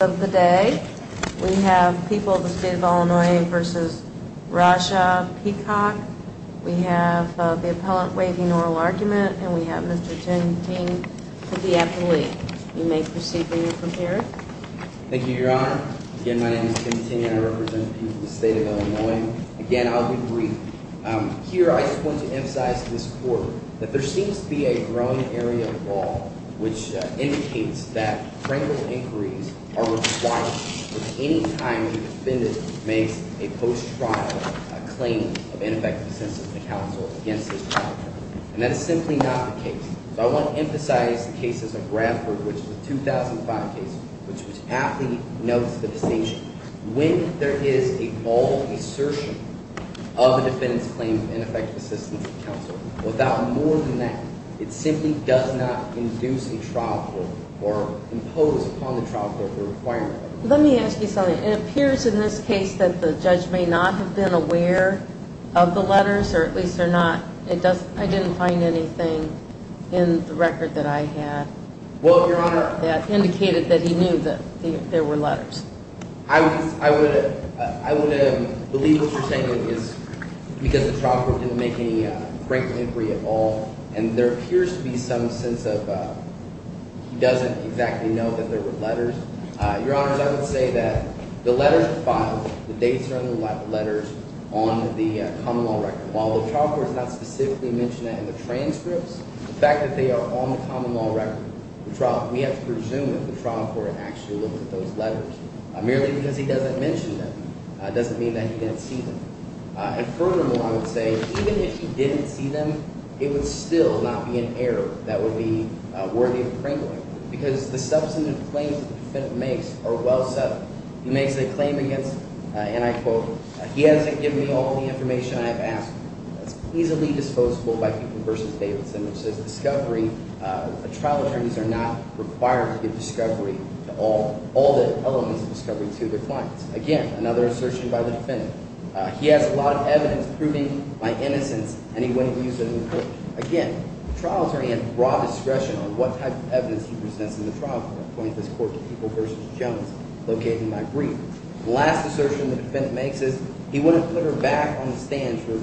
of the day. We have people of the state of Illinois v. Rasha Peacock. We have the appellant waiving oral argument and we have Mr. Tim Ting to be at the lead. You may proceed when you're prepared. Thank you, your honor. Again, my name is Tim Ting and I represent people of the state of Illinois. Again, I'll be brief. Here, I just want to emphasize to this court that there seems to be a growing area of law which indicates that frankly inquiries are required at any time the defendant makes a post-trial claim of ineffective assistance to counsel against his trial attorney. And that is simply not the case. So I want to emphasize the cases of Bradford, which was a 2005 case, which was aptly notes the decision. When there is a bold assertion of the defendant's claim of ineffective assistance to counsel, without more than that, it simply does not induce in trial court or impose upon the trial court the requirement. Let me ask you something. It appears in this case that the judge may not have been aware of the letters or at least they're not, it doesn't, I didn't find anything in the record that I had that indicated that he knew that there were letters. I would, I would, I would believe what you're saying is because the trial court didn't make any frank inquiry at all and there appears to be some sense of he doesn't exactly know that there were letters. Your honors, I would say that the letters are filed, the dates are in the letters on the common law record. While the trial court has not specifically mentioned that in the transcripts, the fact that they are on the common law record, the trial, we have to presume that the trial court actually looked at those letters. Merely because he doesn't mention them, it doesn't mean that he didn't see them. And furthermore, I would say even if he didn't see them, it would still not be an error that would be worthy of crinkling because the substantive claims that the defendant makes are well set. He makes a claim against, and I quote, he hasn't given me all the information I have asked for. That's pleasantly disposable by Keaton versus Davidson, which says discovery, trial attorneys are not required to give discovery to all, all the elements of discovery to their clients. Again, another assertion by the defendant. He has a lot of evidence proving my innocence and he wouldn't use it in court. Again, the trial attorney had broad discretion on what type of evidence he presents in the trial court. I point this court to Keaton versus Jones, located in my brief. The last assertion the defendant makes is he wouldn't put her back on the stands for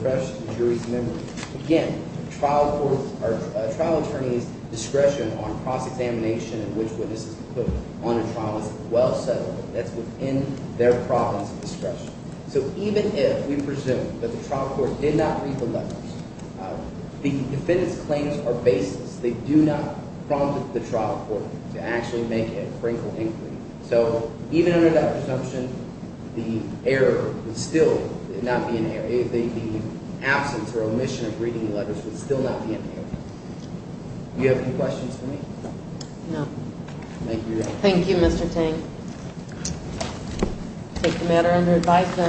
jury's memory. Again, trial court or trial attorney's discretion on cross-examination in which witnesses put on a trial is well settled. That's within their province of discretion. So even if we presume that the trial court did not read the letters, the defendant's claims are baseless. They do not prompt the trial court to actually make a crinkle inquiry. So even under that presumption, the error would still not be an error. The absence or omission of reading letters would still not be an error. Do you have any questions for me? No. Thank you. Thank you, Mr. Tang. I take the matter under advice that